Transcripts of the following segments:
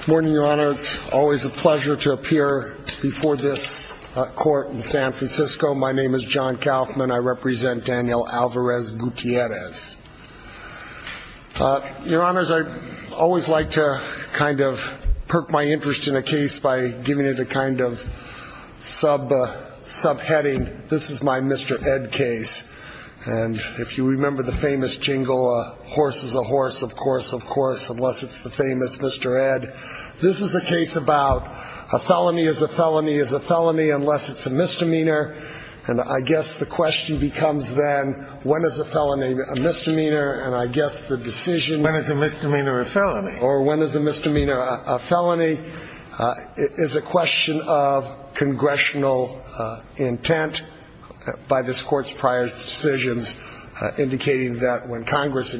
Good morning, Your Honor. It's always a pleasure to appear before this court in San Francisco. My name is John Kaufman. I represent Daniel Alvarez-Gutierrez. Your Honor, I always like to kind of perk my interest in a case by giving it a kind of subheading. This is my Mr. Ed case. And if you remember the famous jingle, a horse is a horse, of course, of course, unless it's the famous Mr. Ed. This is a case about a felony is a felony is a felony unless it's a misdemeanor. And I guess the question becomes then, when is a felony a misdemeanor? And I guess the decision When is a misdemeanor a felony? Or when is a misdemeanor a felony? Is a question of congressional intent by this court's prior decisions indicating that when Congress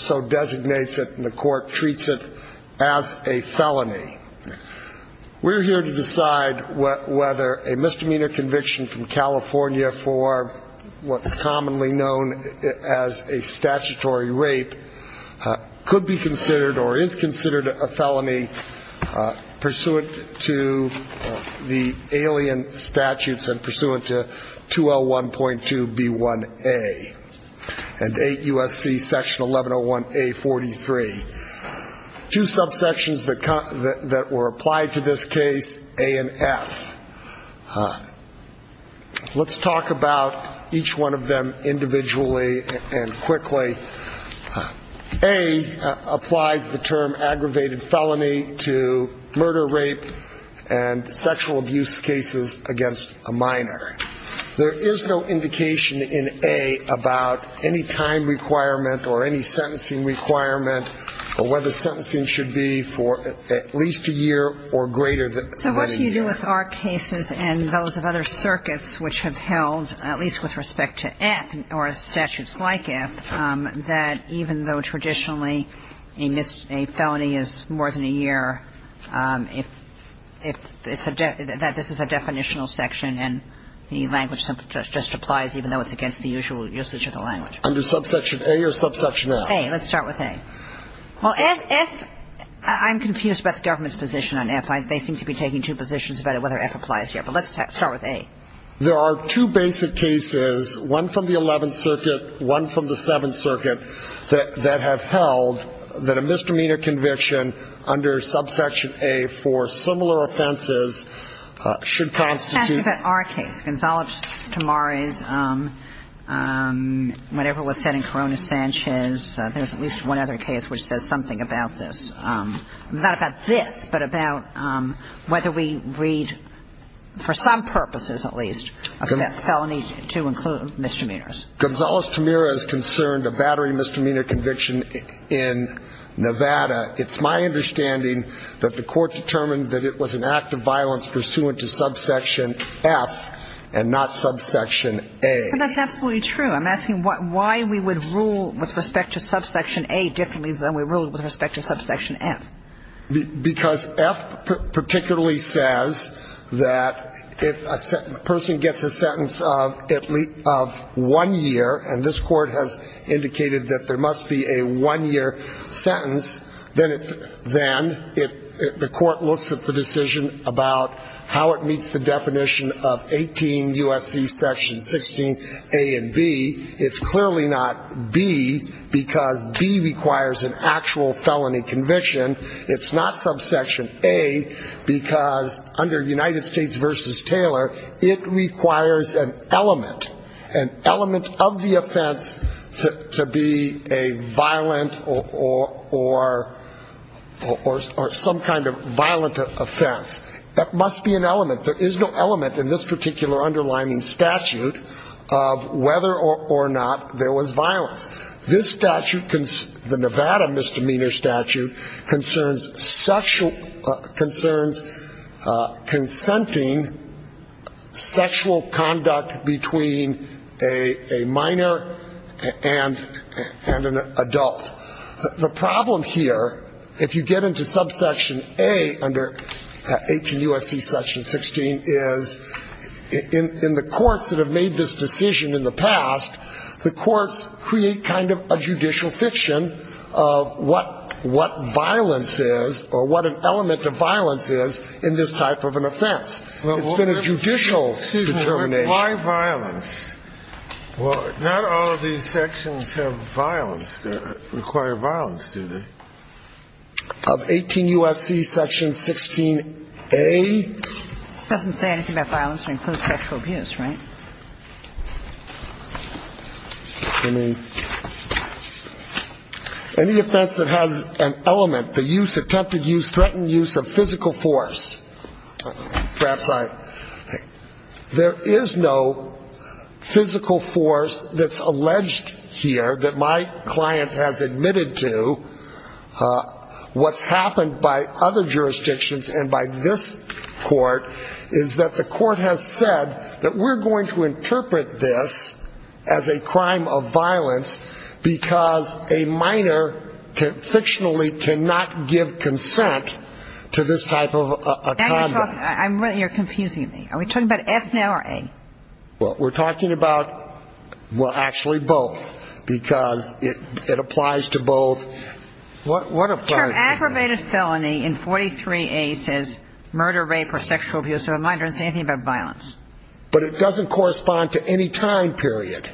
so designates it and the court treats it as a felony. We're here to decide whether a misdemeanor conviction from California for what's commonly known as a statutory rape could be considered or is considered a felony pursuant to the alien statutes and pursuant to 2L1.2B1A and 8 U.S.C. section 1101A43. Two subsections that were applied to this case, A and F. Let's talk about each one of them individually and quickly. A applies the There is no indication in A about any time requirement or any sentencing requirement or whether sentencing should be for at least a year or greater than a year. So what do you do with our cases and those of other circuits which have held, at least with respect to F or statutes like F, that even though traditionally a felony is more in a year, if this is a definitional section and the language just applies even though it's against the usual usage of the language. Under subsection A or subsection F? A. Let's start with A. Well, F, I'm confused about the government's position on F. They seem to be taking two positions about whether F applies here. But let's start with A. There are two basic cases, one from the 11th Circuit, one from the 7th Circuit, that have held that a misdemeanor conviction under subsection A for similar offenses should constitute Let's ask you about our case, Gonzales-Tamara's, whatever was said in Corona-Sanchez. There's at least one other case which says something about this. Not about this, but about whether we read, for some purposes at least, a felony to include misdemeanors. Gonzales-Tamara is concerned a battery misdemeanor conviction in Nevada. It's my understanding that the court determined that it was an act of violence pursuant to subsection F and not subsection A. But that's absolutely true. I'm asking why we would rule with respect to subsection A differently than we ruled with respect to subsection F. Because F particularly says that if a person gets a sentence of one year, and this court has indicated that there must be a one-year sentence, then the court looks at the decision about how it meets the definition of 18 U.S.C. section 16 A and B. It's not subsection A because under United States v. Taylor, it requires an element, an element of the offense to be a violent or some kind of violent offense. That must be an element. There is no element in this particular underlining statute of whether or not there was violence. This statute, the Nevada misdemeanor statute, concerns sexual, concerns consenting sexual conduct between a minor and an adult. The problem here, if you get into subsection A under 18 U.S.C. section 16, is in the courts that have made this decision in the past, the courts create kind of a judicial fiction of what violence is or what an element of violence is in this type of an offense. It's been a judicial determination. Why violence? Well, not all of these sections have violence, require violence, do they? Of 18 U.S.C. section 16 A? It doesn't say anything about violence or includes sexual abuse, right? I mean, any offense that has an element, the use, attempted use, threatened use of physical force, perhaps I, there is no physical force that's alleged here that my client has admitted to. What's happened by other jurisdictions and by this court is that the court has said that we're going to interpret this as a crime of violence because a minor can, fictionally, cannot give consent to this type of a conduct. Now you're talking, I'm really, you're confusing me. Are we talking about F now or A? Well, we're talking about, well, actually both, because it applies to both. What applies to both? The term aggravated felony in 43A says murder, rape or sexual abuse of a minor. It doesn't say anything about violence. But it doesn't correspond to any time period.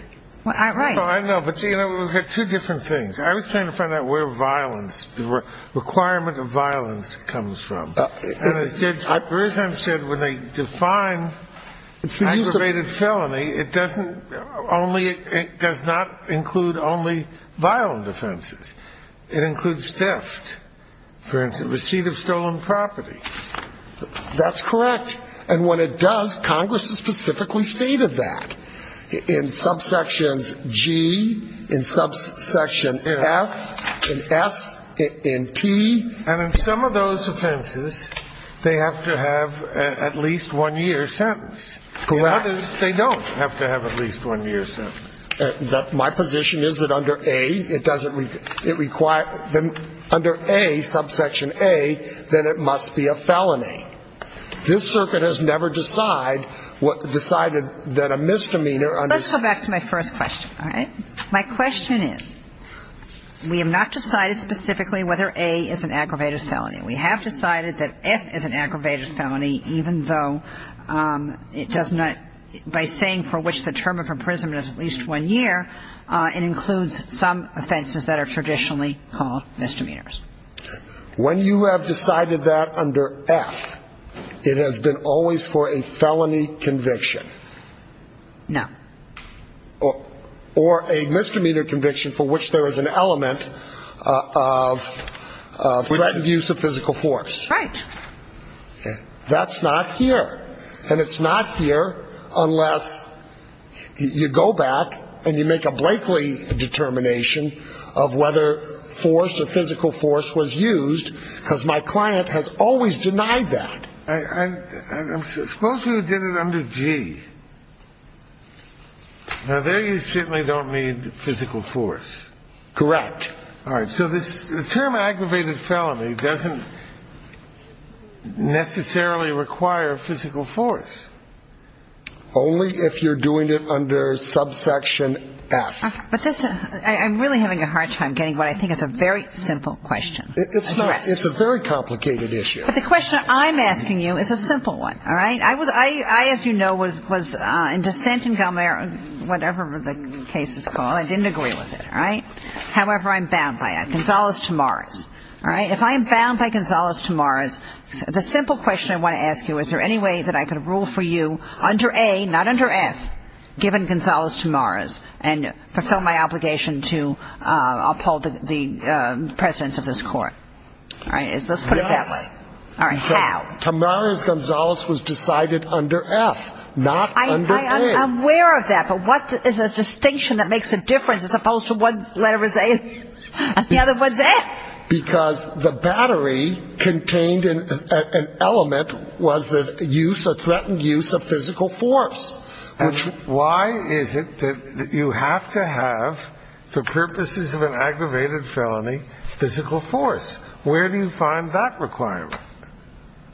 Well, I know, but you know, we've got two different things. I was trying to find out where violence, the requirement of violence comes from. And as Judge Beresheim said, when they define aggravated felony, it doesn't only, it does not include only violent offenses. It includes theft. For instance, receipt of stolen property. That's correct. And when it does, Congress has specifically stated that. In subsections G, in subsection F, in S, in T. And in some of those offenses, they have to have at least one year sentence. Correct. In others, they don't have to have at least one year sentence. My position is that under A, it doesn't, it requires, under A, subsection A, then it must be a felony. This circuit has never decided that a misdemeanor under... Let's go back to my first question, all right? My question is, we have not decided specifically whether A is an aggravated felony. We have decided that F is an aggravated felony, even though it does not, by saying for which the term of imprisonment is at least one year, it includes some offenses that are traditionally called misdemeanors. When you have decided that under F, it has been always for a felony conviction. No. Or a misdemeanor conviction for which there is an element of threatened use of physical force. Right. That's not here. And it's not here unless you go back and you make a Blakely determination of whether force or physical force was used, because my client has always denied that. I'm supposed to have done it under G. Now, there you certainly don't need physical force. Correct. All right. So the term aggravated felony doesn't necessarily require physical force. Only if you're doing it under subsection F. I'm really having a hard time getting what I think is a very simple question. It's a very complicated issue. But the question I'm asking you is a simple one. All right? I, as you know, was in dissent in whatever the case is called. I didn't agree with it. All right? However, I'm bound by it. Gonzales to Morris. All right? If I'm bound by Gonzales to Morris, the simple question I want to ask you, is there any way that I could rule for you under A, not under F, given Gonzales to Morris, to fulfill my obligation to uphold the precedence of this court? All right? Let's put it that way. All right. How? Because Tamara's Gonzales was decided under F, not under A. I'm aware of that, but what is a distinction that makes a difference as opposed to one letter is A and the other one's F? Because the battery contained an element was the use or threatened use of physical force. Why is it that you have to have, for purposes of an aggravated felony, physical force? Where do you find that requirement?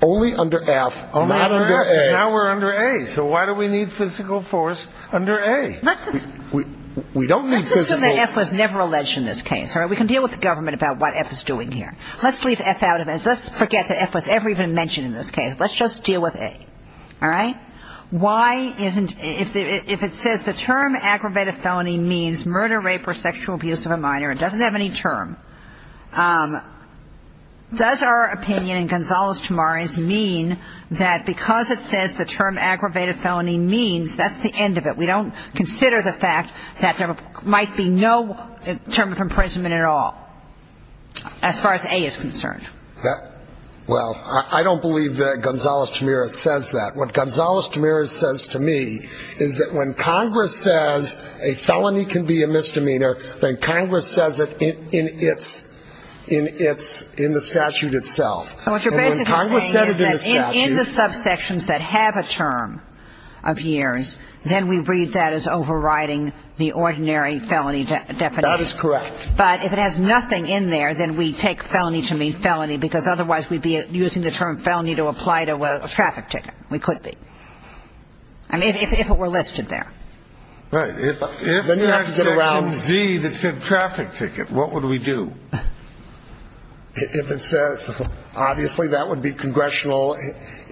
Only under F, not under A. Now we're under A. So why do we need physical force under A? Let's assume that F was never alleged in this case. All right? We can deal with the government about what F is doing here. Let's leave F out of it. Let's forget that F was ever even mentioned in this case. Let's just deal with A. All right? Why isn't, if it says the term aggravated felony means murder, rape or sexual abuse of a minor, it doesn't have any term, does our opinion in Gonzales to Morris mean that because it says the term aggravated felony means, that's the end of it? We don't consider the fact that there might be no term of imprisonment at all. As far as A is concerned. Well, I don't believe that Gonzales to Morris says that. What Gonzales to Morris says to me is that when Congress says a felony can be a misdemeanor, then Congress says it in the statute itself. And what you're basically saying is that in the subsections that have a term of years, then we read that as overriding the ordinary felony definition. That is correct. But if it has nothing in there, then we take felony to mean felony, because otherwise we'd be using the term felony to apply to a traffic ticket. We could be. I mean, if it were listed there. Right. If you have a Z that said traffic ticket, what would we do? If it says, obviously that would be congressional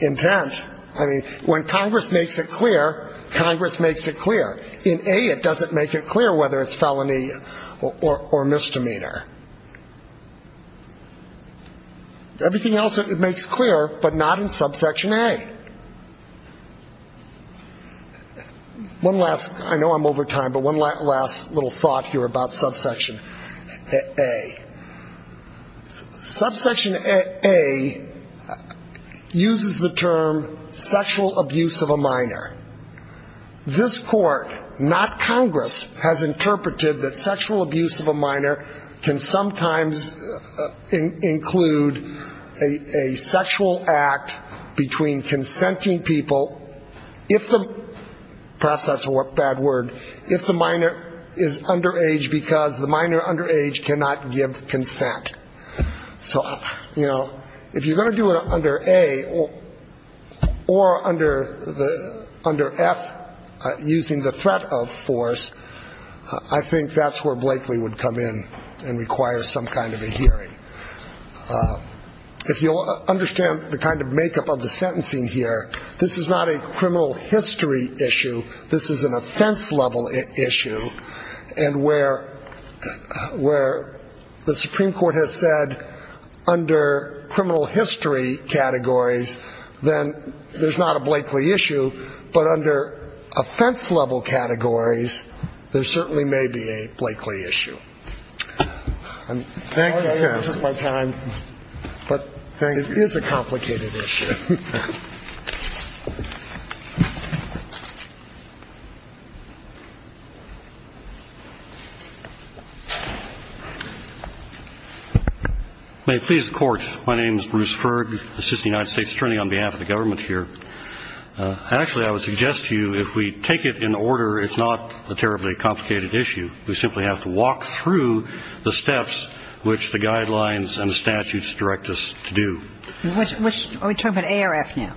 intent. I mean, when Congress makes it clear, Congress makes it clear. In A it doesn't make it clear whether it's felony or misdemeanor. Everything else it makes clear, but not in subsection A. One last, I know I'm over time, but one last little thought here about subsection A. Subsection A uses the term sexual abuse of a minor. This court, not Congress, has interpreted that sexual abuse of a minor can sometimes include a sexual act between consenting people, perhaps that's a bad word, if the minor is underage, because the minor underage cannot give consent. So, you know, if you're going to do it under A, or under the under F, using the threat of force, I think that's where Blakely would come in and require some kind of a hearing. If you'll understand the kind of makeup of the sentencing here, this is not a criminal history issue, this is an offense-level issue, and where the Supreme Court has said under criminal history categories, then there's not a Blakely issue, but there's an offense-level issue. But under offense-level categories, there certainly may be a Blakely issue. Thank you, counsel. It is a complicated issue. May it please the Court, my name is Bruce Ferg, assistant United States attorney on behalf of the government here. Actually, I would suggest to you, if we take it in order, it's not a terribly complicated issue. We simply have to walk through the steps which the guidelines and the statutes direct us to do. Are we talking about A or F now?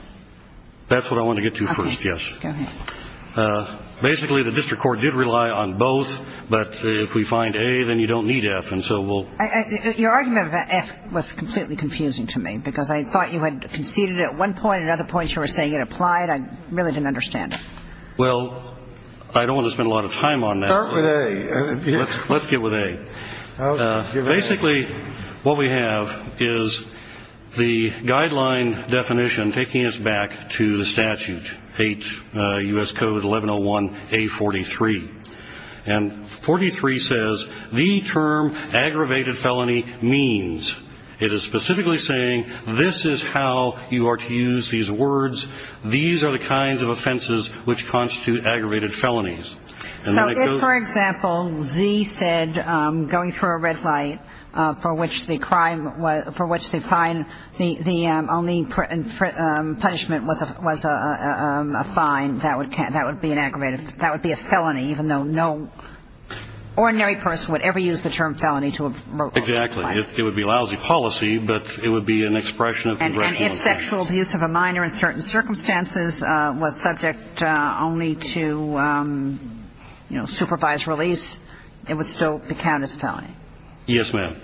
That's what I want to get to first, yes. Basically, the district court did rely on both, but if we find A, then you don't need F. Your argument about F was completely confusing to me, because I thought you had conceded at one point, and at other points you were saying it applied. I really didn't understand it. Well, I don't want to spend a lot of time on that. Start with A. Let's get with A. Basically, what we have is the guideline definition taking us back to the statute, U.S. Code 1101A43. And 43 says the term aggravated felony means. It is specifically saying this is how you are to use these words. These are the kinds of offenses which constitute aggravated felonies. So if, for example, Z said going through a red light for which the crime, for which the fine, the only punishment was a fine, that would be an aggravated, that would be a felony, even though no ordinary person would ever use the term felony to refer to a crime. Exactly. It would be lousy policy, but it would be an expression of congressional intent. And if sexual abuse of a minor in certain circumstances was subject only to, you know, supervised release, it would still be counted as a felony. Yes, ma'am.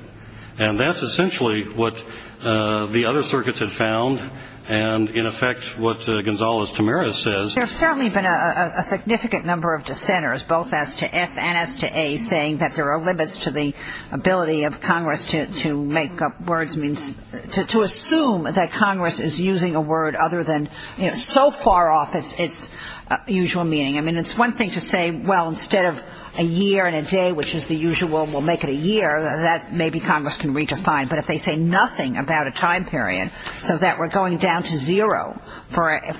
And that's essentially what the other circuits had found, and in effect what Gonzales-Tamiris says. There have certainly been a significant number of dissenters, both as to F and as to A, saying that there are limits to the ability of Congress to make up words, to assume that Congress is using a word other than, you know, so far off its usual meaning. I mean, it's one thing to say, well, instead of a year and a day, which is the usual, we'll make it a year, that maybe Congress can redefine. But if they say nothing about a time period, so that we're going down to zero for a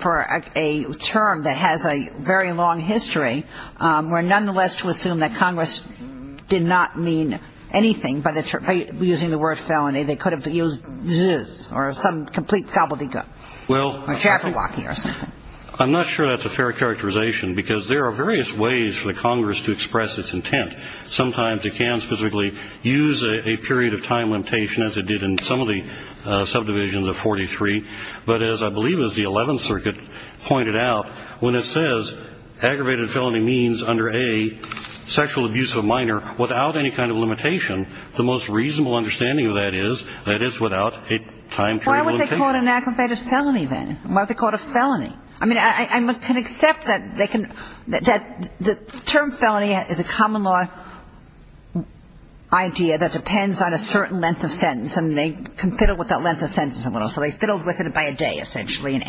term that has a very long history, we're nonetheless to assume that Congress did not mean anything by using the word felony. They could have used zzz or some complete gobbledygook. Well, I'm not sure that's a fair characterization because there are various ways for the Congress to express its intent. Sometimes it can specifically use a period of time limitation, as it did in some of the subdivisions of 43. But as I believe as the 11th Circuit pointed out, when it says aggravated felony means under A sexual abuse of a minor without any kind of limitation, the most reasonable understanding of that is that it's without a time period limitation. Why would they call it an aggravated felony, then? Why would they call it a felony? I mean, I can accept that the term felony is a common law idea that depends on a certain length of sentence, and they can fiddle with that length of sentence a little. So they fiddled with it by a day, essentially.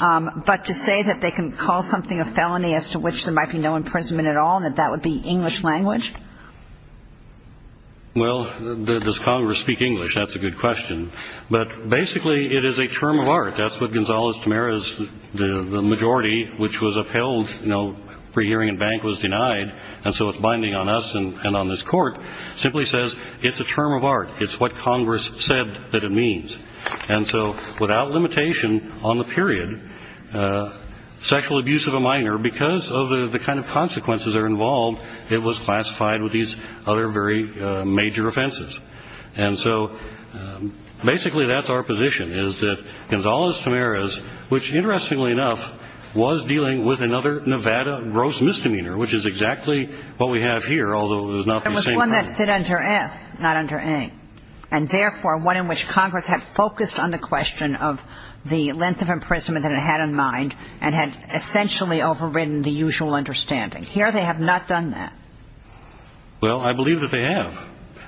But to say that they can call something a felony as to which there might be no imprisonment at all and that that would be English language? Well, does Congress speak English? That's a good question. But basically it is a term of art. That's what Gonzales-Tamara's majority, which was upheld, you know, pre-hearing and bank was denied, and so it's binding on us and on this Court, simply says it's a term of art. It's what Congress said that it means. And so without limitation on the period, sexual abuse of a minor, because of the kind of consequences that are involved, it was classified with these other very major offenses. And so basically that's our position, is that Gonzales-Tamara's, which interestingly enough was dealing with another Nevada gross misdemeanor, which is exactly what we have here, although it was not the same crime. It was one that fit under F, not under A, and therefore one in which Congress had focused on the question of the length of imprisonment that it had in mind and had essentially overridden the usual understanding. Here they have not done that. Well, I believe that they have.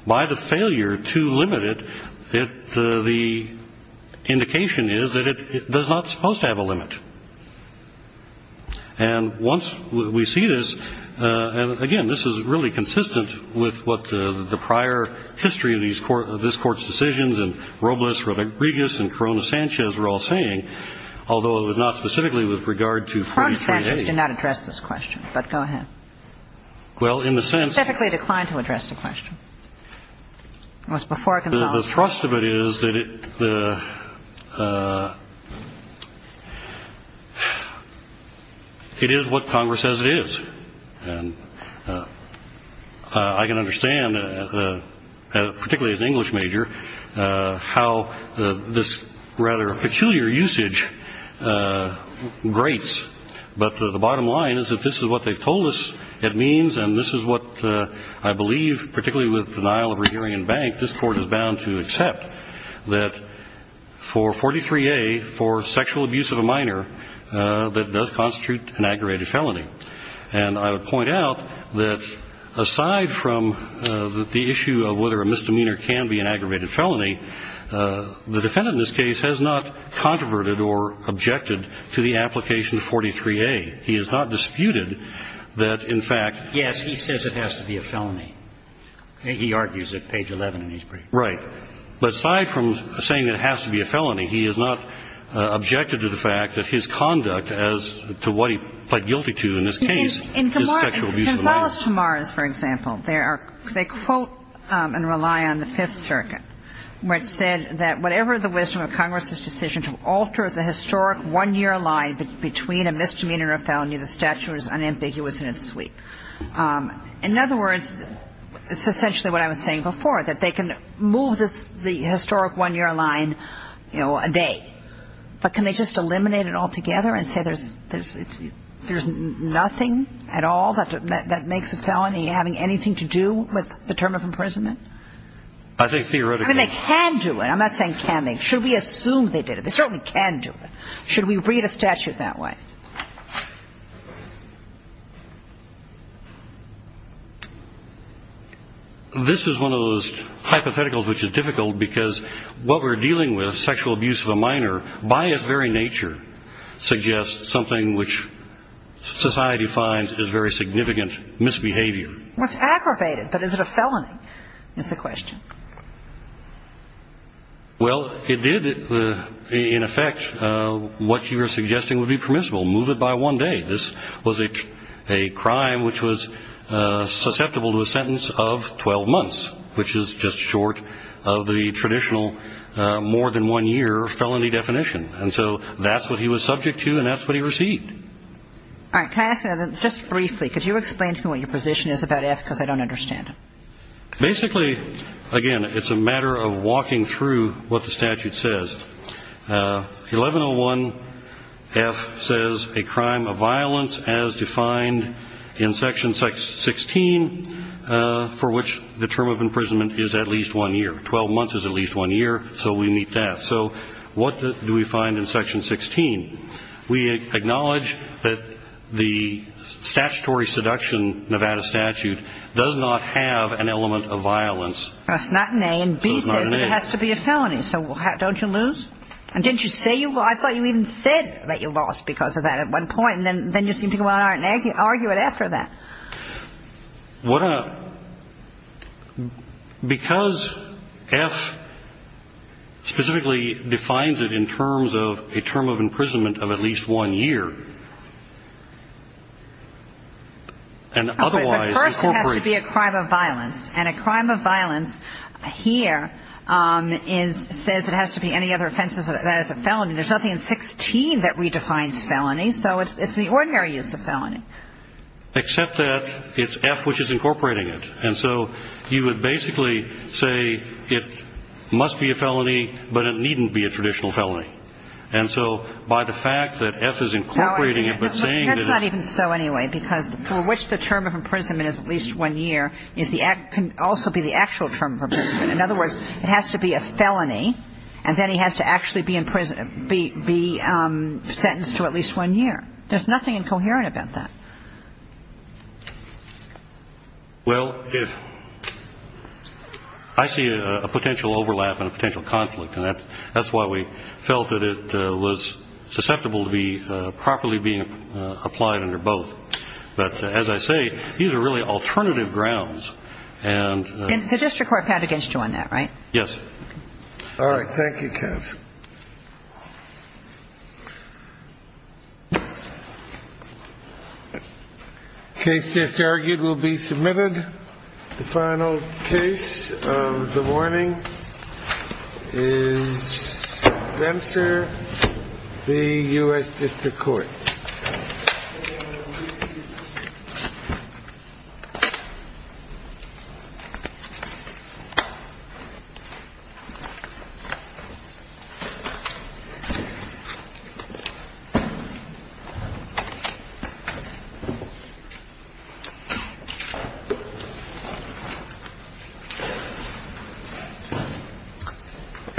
By the failure to limit it, the indication is that it does not suppose to have a limit. And once we see this, and again, this is really consistent with what the prior history of this Court's decisions and Robles, Rodriguez, and Corona-Sanchez were all saying, although it was not specifically with regard to Fee v. A. Well, in the sense that it is what Congress says it is. And I can understand, particularly as an English major, how this rather peculiar usage grates, but the bottom line is that this is what they've told us it means, and this is what I believe, particularly with denial of rehearing in bank, this Court is bound to accept, that for 43A, for sexual abuse of a minor, that does constitute an aggravated felony. And I would point out that aside from the issue of whether a misdemeanor can be an aggravated felony, the defendant in this case has not controverted or objected to the application of 43A. He has not disputed that, in fact ---- Yes, he says it has to be a felony. He argues it, page 11 in these briefs. Right. But aside from saying it has to be a felony, he has not objected to the fact that his conduct as to what he pled guilty to in this case is sexual abuse of a minor. In Gonzales to Mars, for example, they quote and rely on the Fifth Circuit, which said that whatever the wisdom of Congress's decision to alter the historic one-year line between a misdemeanor and a felony, the statute is unambiguous and it's sweet. In other words, it's essentially what I was saying before, that they can move the historic one-year line, you know, a day. But can they just eliminate it altogether and say there's nothing at all that makes a felony having anything to do with the term of imprisonment? I think theoretically ---- I mean, they can do it. I'm not saying can they. Should we assume they did it? They certainly can do it. Should we read a statute that way? This is one of those hypotheticals which is difficult because what we're dealing with, sexual abuse of a minor, by its very nature, suggests something which society finds is very significant misbehavior. Well, it's aggravated. But is it a felony is the question. Well, it did, in effect, what you were suggesting would be permissible, move it by one day. This was a crime which was susceptible to a sentence of 12 months, which is just short of the traditional more than one year felony definition. And so that's what he was subject to and that's what he received. All right. Can I ask you just briefly? Could you explain to me what your position is about F because I don't understand it. Basically, again, it's a matter of walking through what the statute says. 1101F says a crime of violence as defined in Section 16, for which the term of imprisonment is at least one year. Twelve months is at least one year, so we meet that. So what do we find in Section 16? We acknowledge that the statutory seduction Nevada statute does not have an element of violence. It's not an A, and B says it has to be a felony. So don't you lose? And didn't you say you lost? I thought you even said that you lost because of that at one point. And then you seem to go on and argue at F for that. Because F specifically defines it in terms of a term of imprisonment of at least one year, and otherwise we incorporate. But first it has to be a crime of violence. And a crime of violence here says it has to be any other offense that is a felony. There's nothing in 16 that redefines felony, so it's the ordinary use of felony. Except that it's F which is incorporating it. And so you would basically say it must be a felony, but it needn't be a traditional felony. And so by the fact that F is incorporating it but saying that it's a felony. That's not even so anyway, because for which the term of imprisonment is at least one year can also be the actual term of imprisonment. In other words, it has to be a felony, and then he has to actually be sentenced to at least one year. There's nothing incoherent about that. Well, I see a potential overlap and a potential conflict, and that's why we felt that it was susceptible to be properly being applied under both. But as I say, these are really alternative grounds. And the district court found against you on that, right? Yes. All right. Thank you. Case just argued will be submitted. The final case of the morning is Dempster v. Good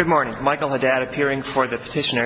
morning. Michael Haddad appearing for the petitioner.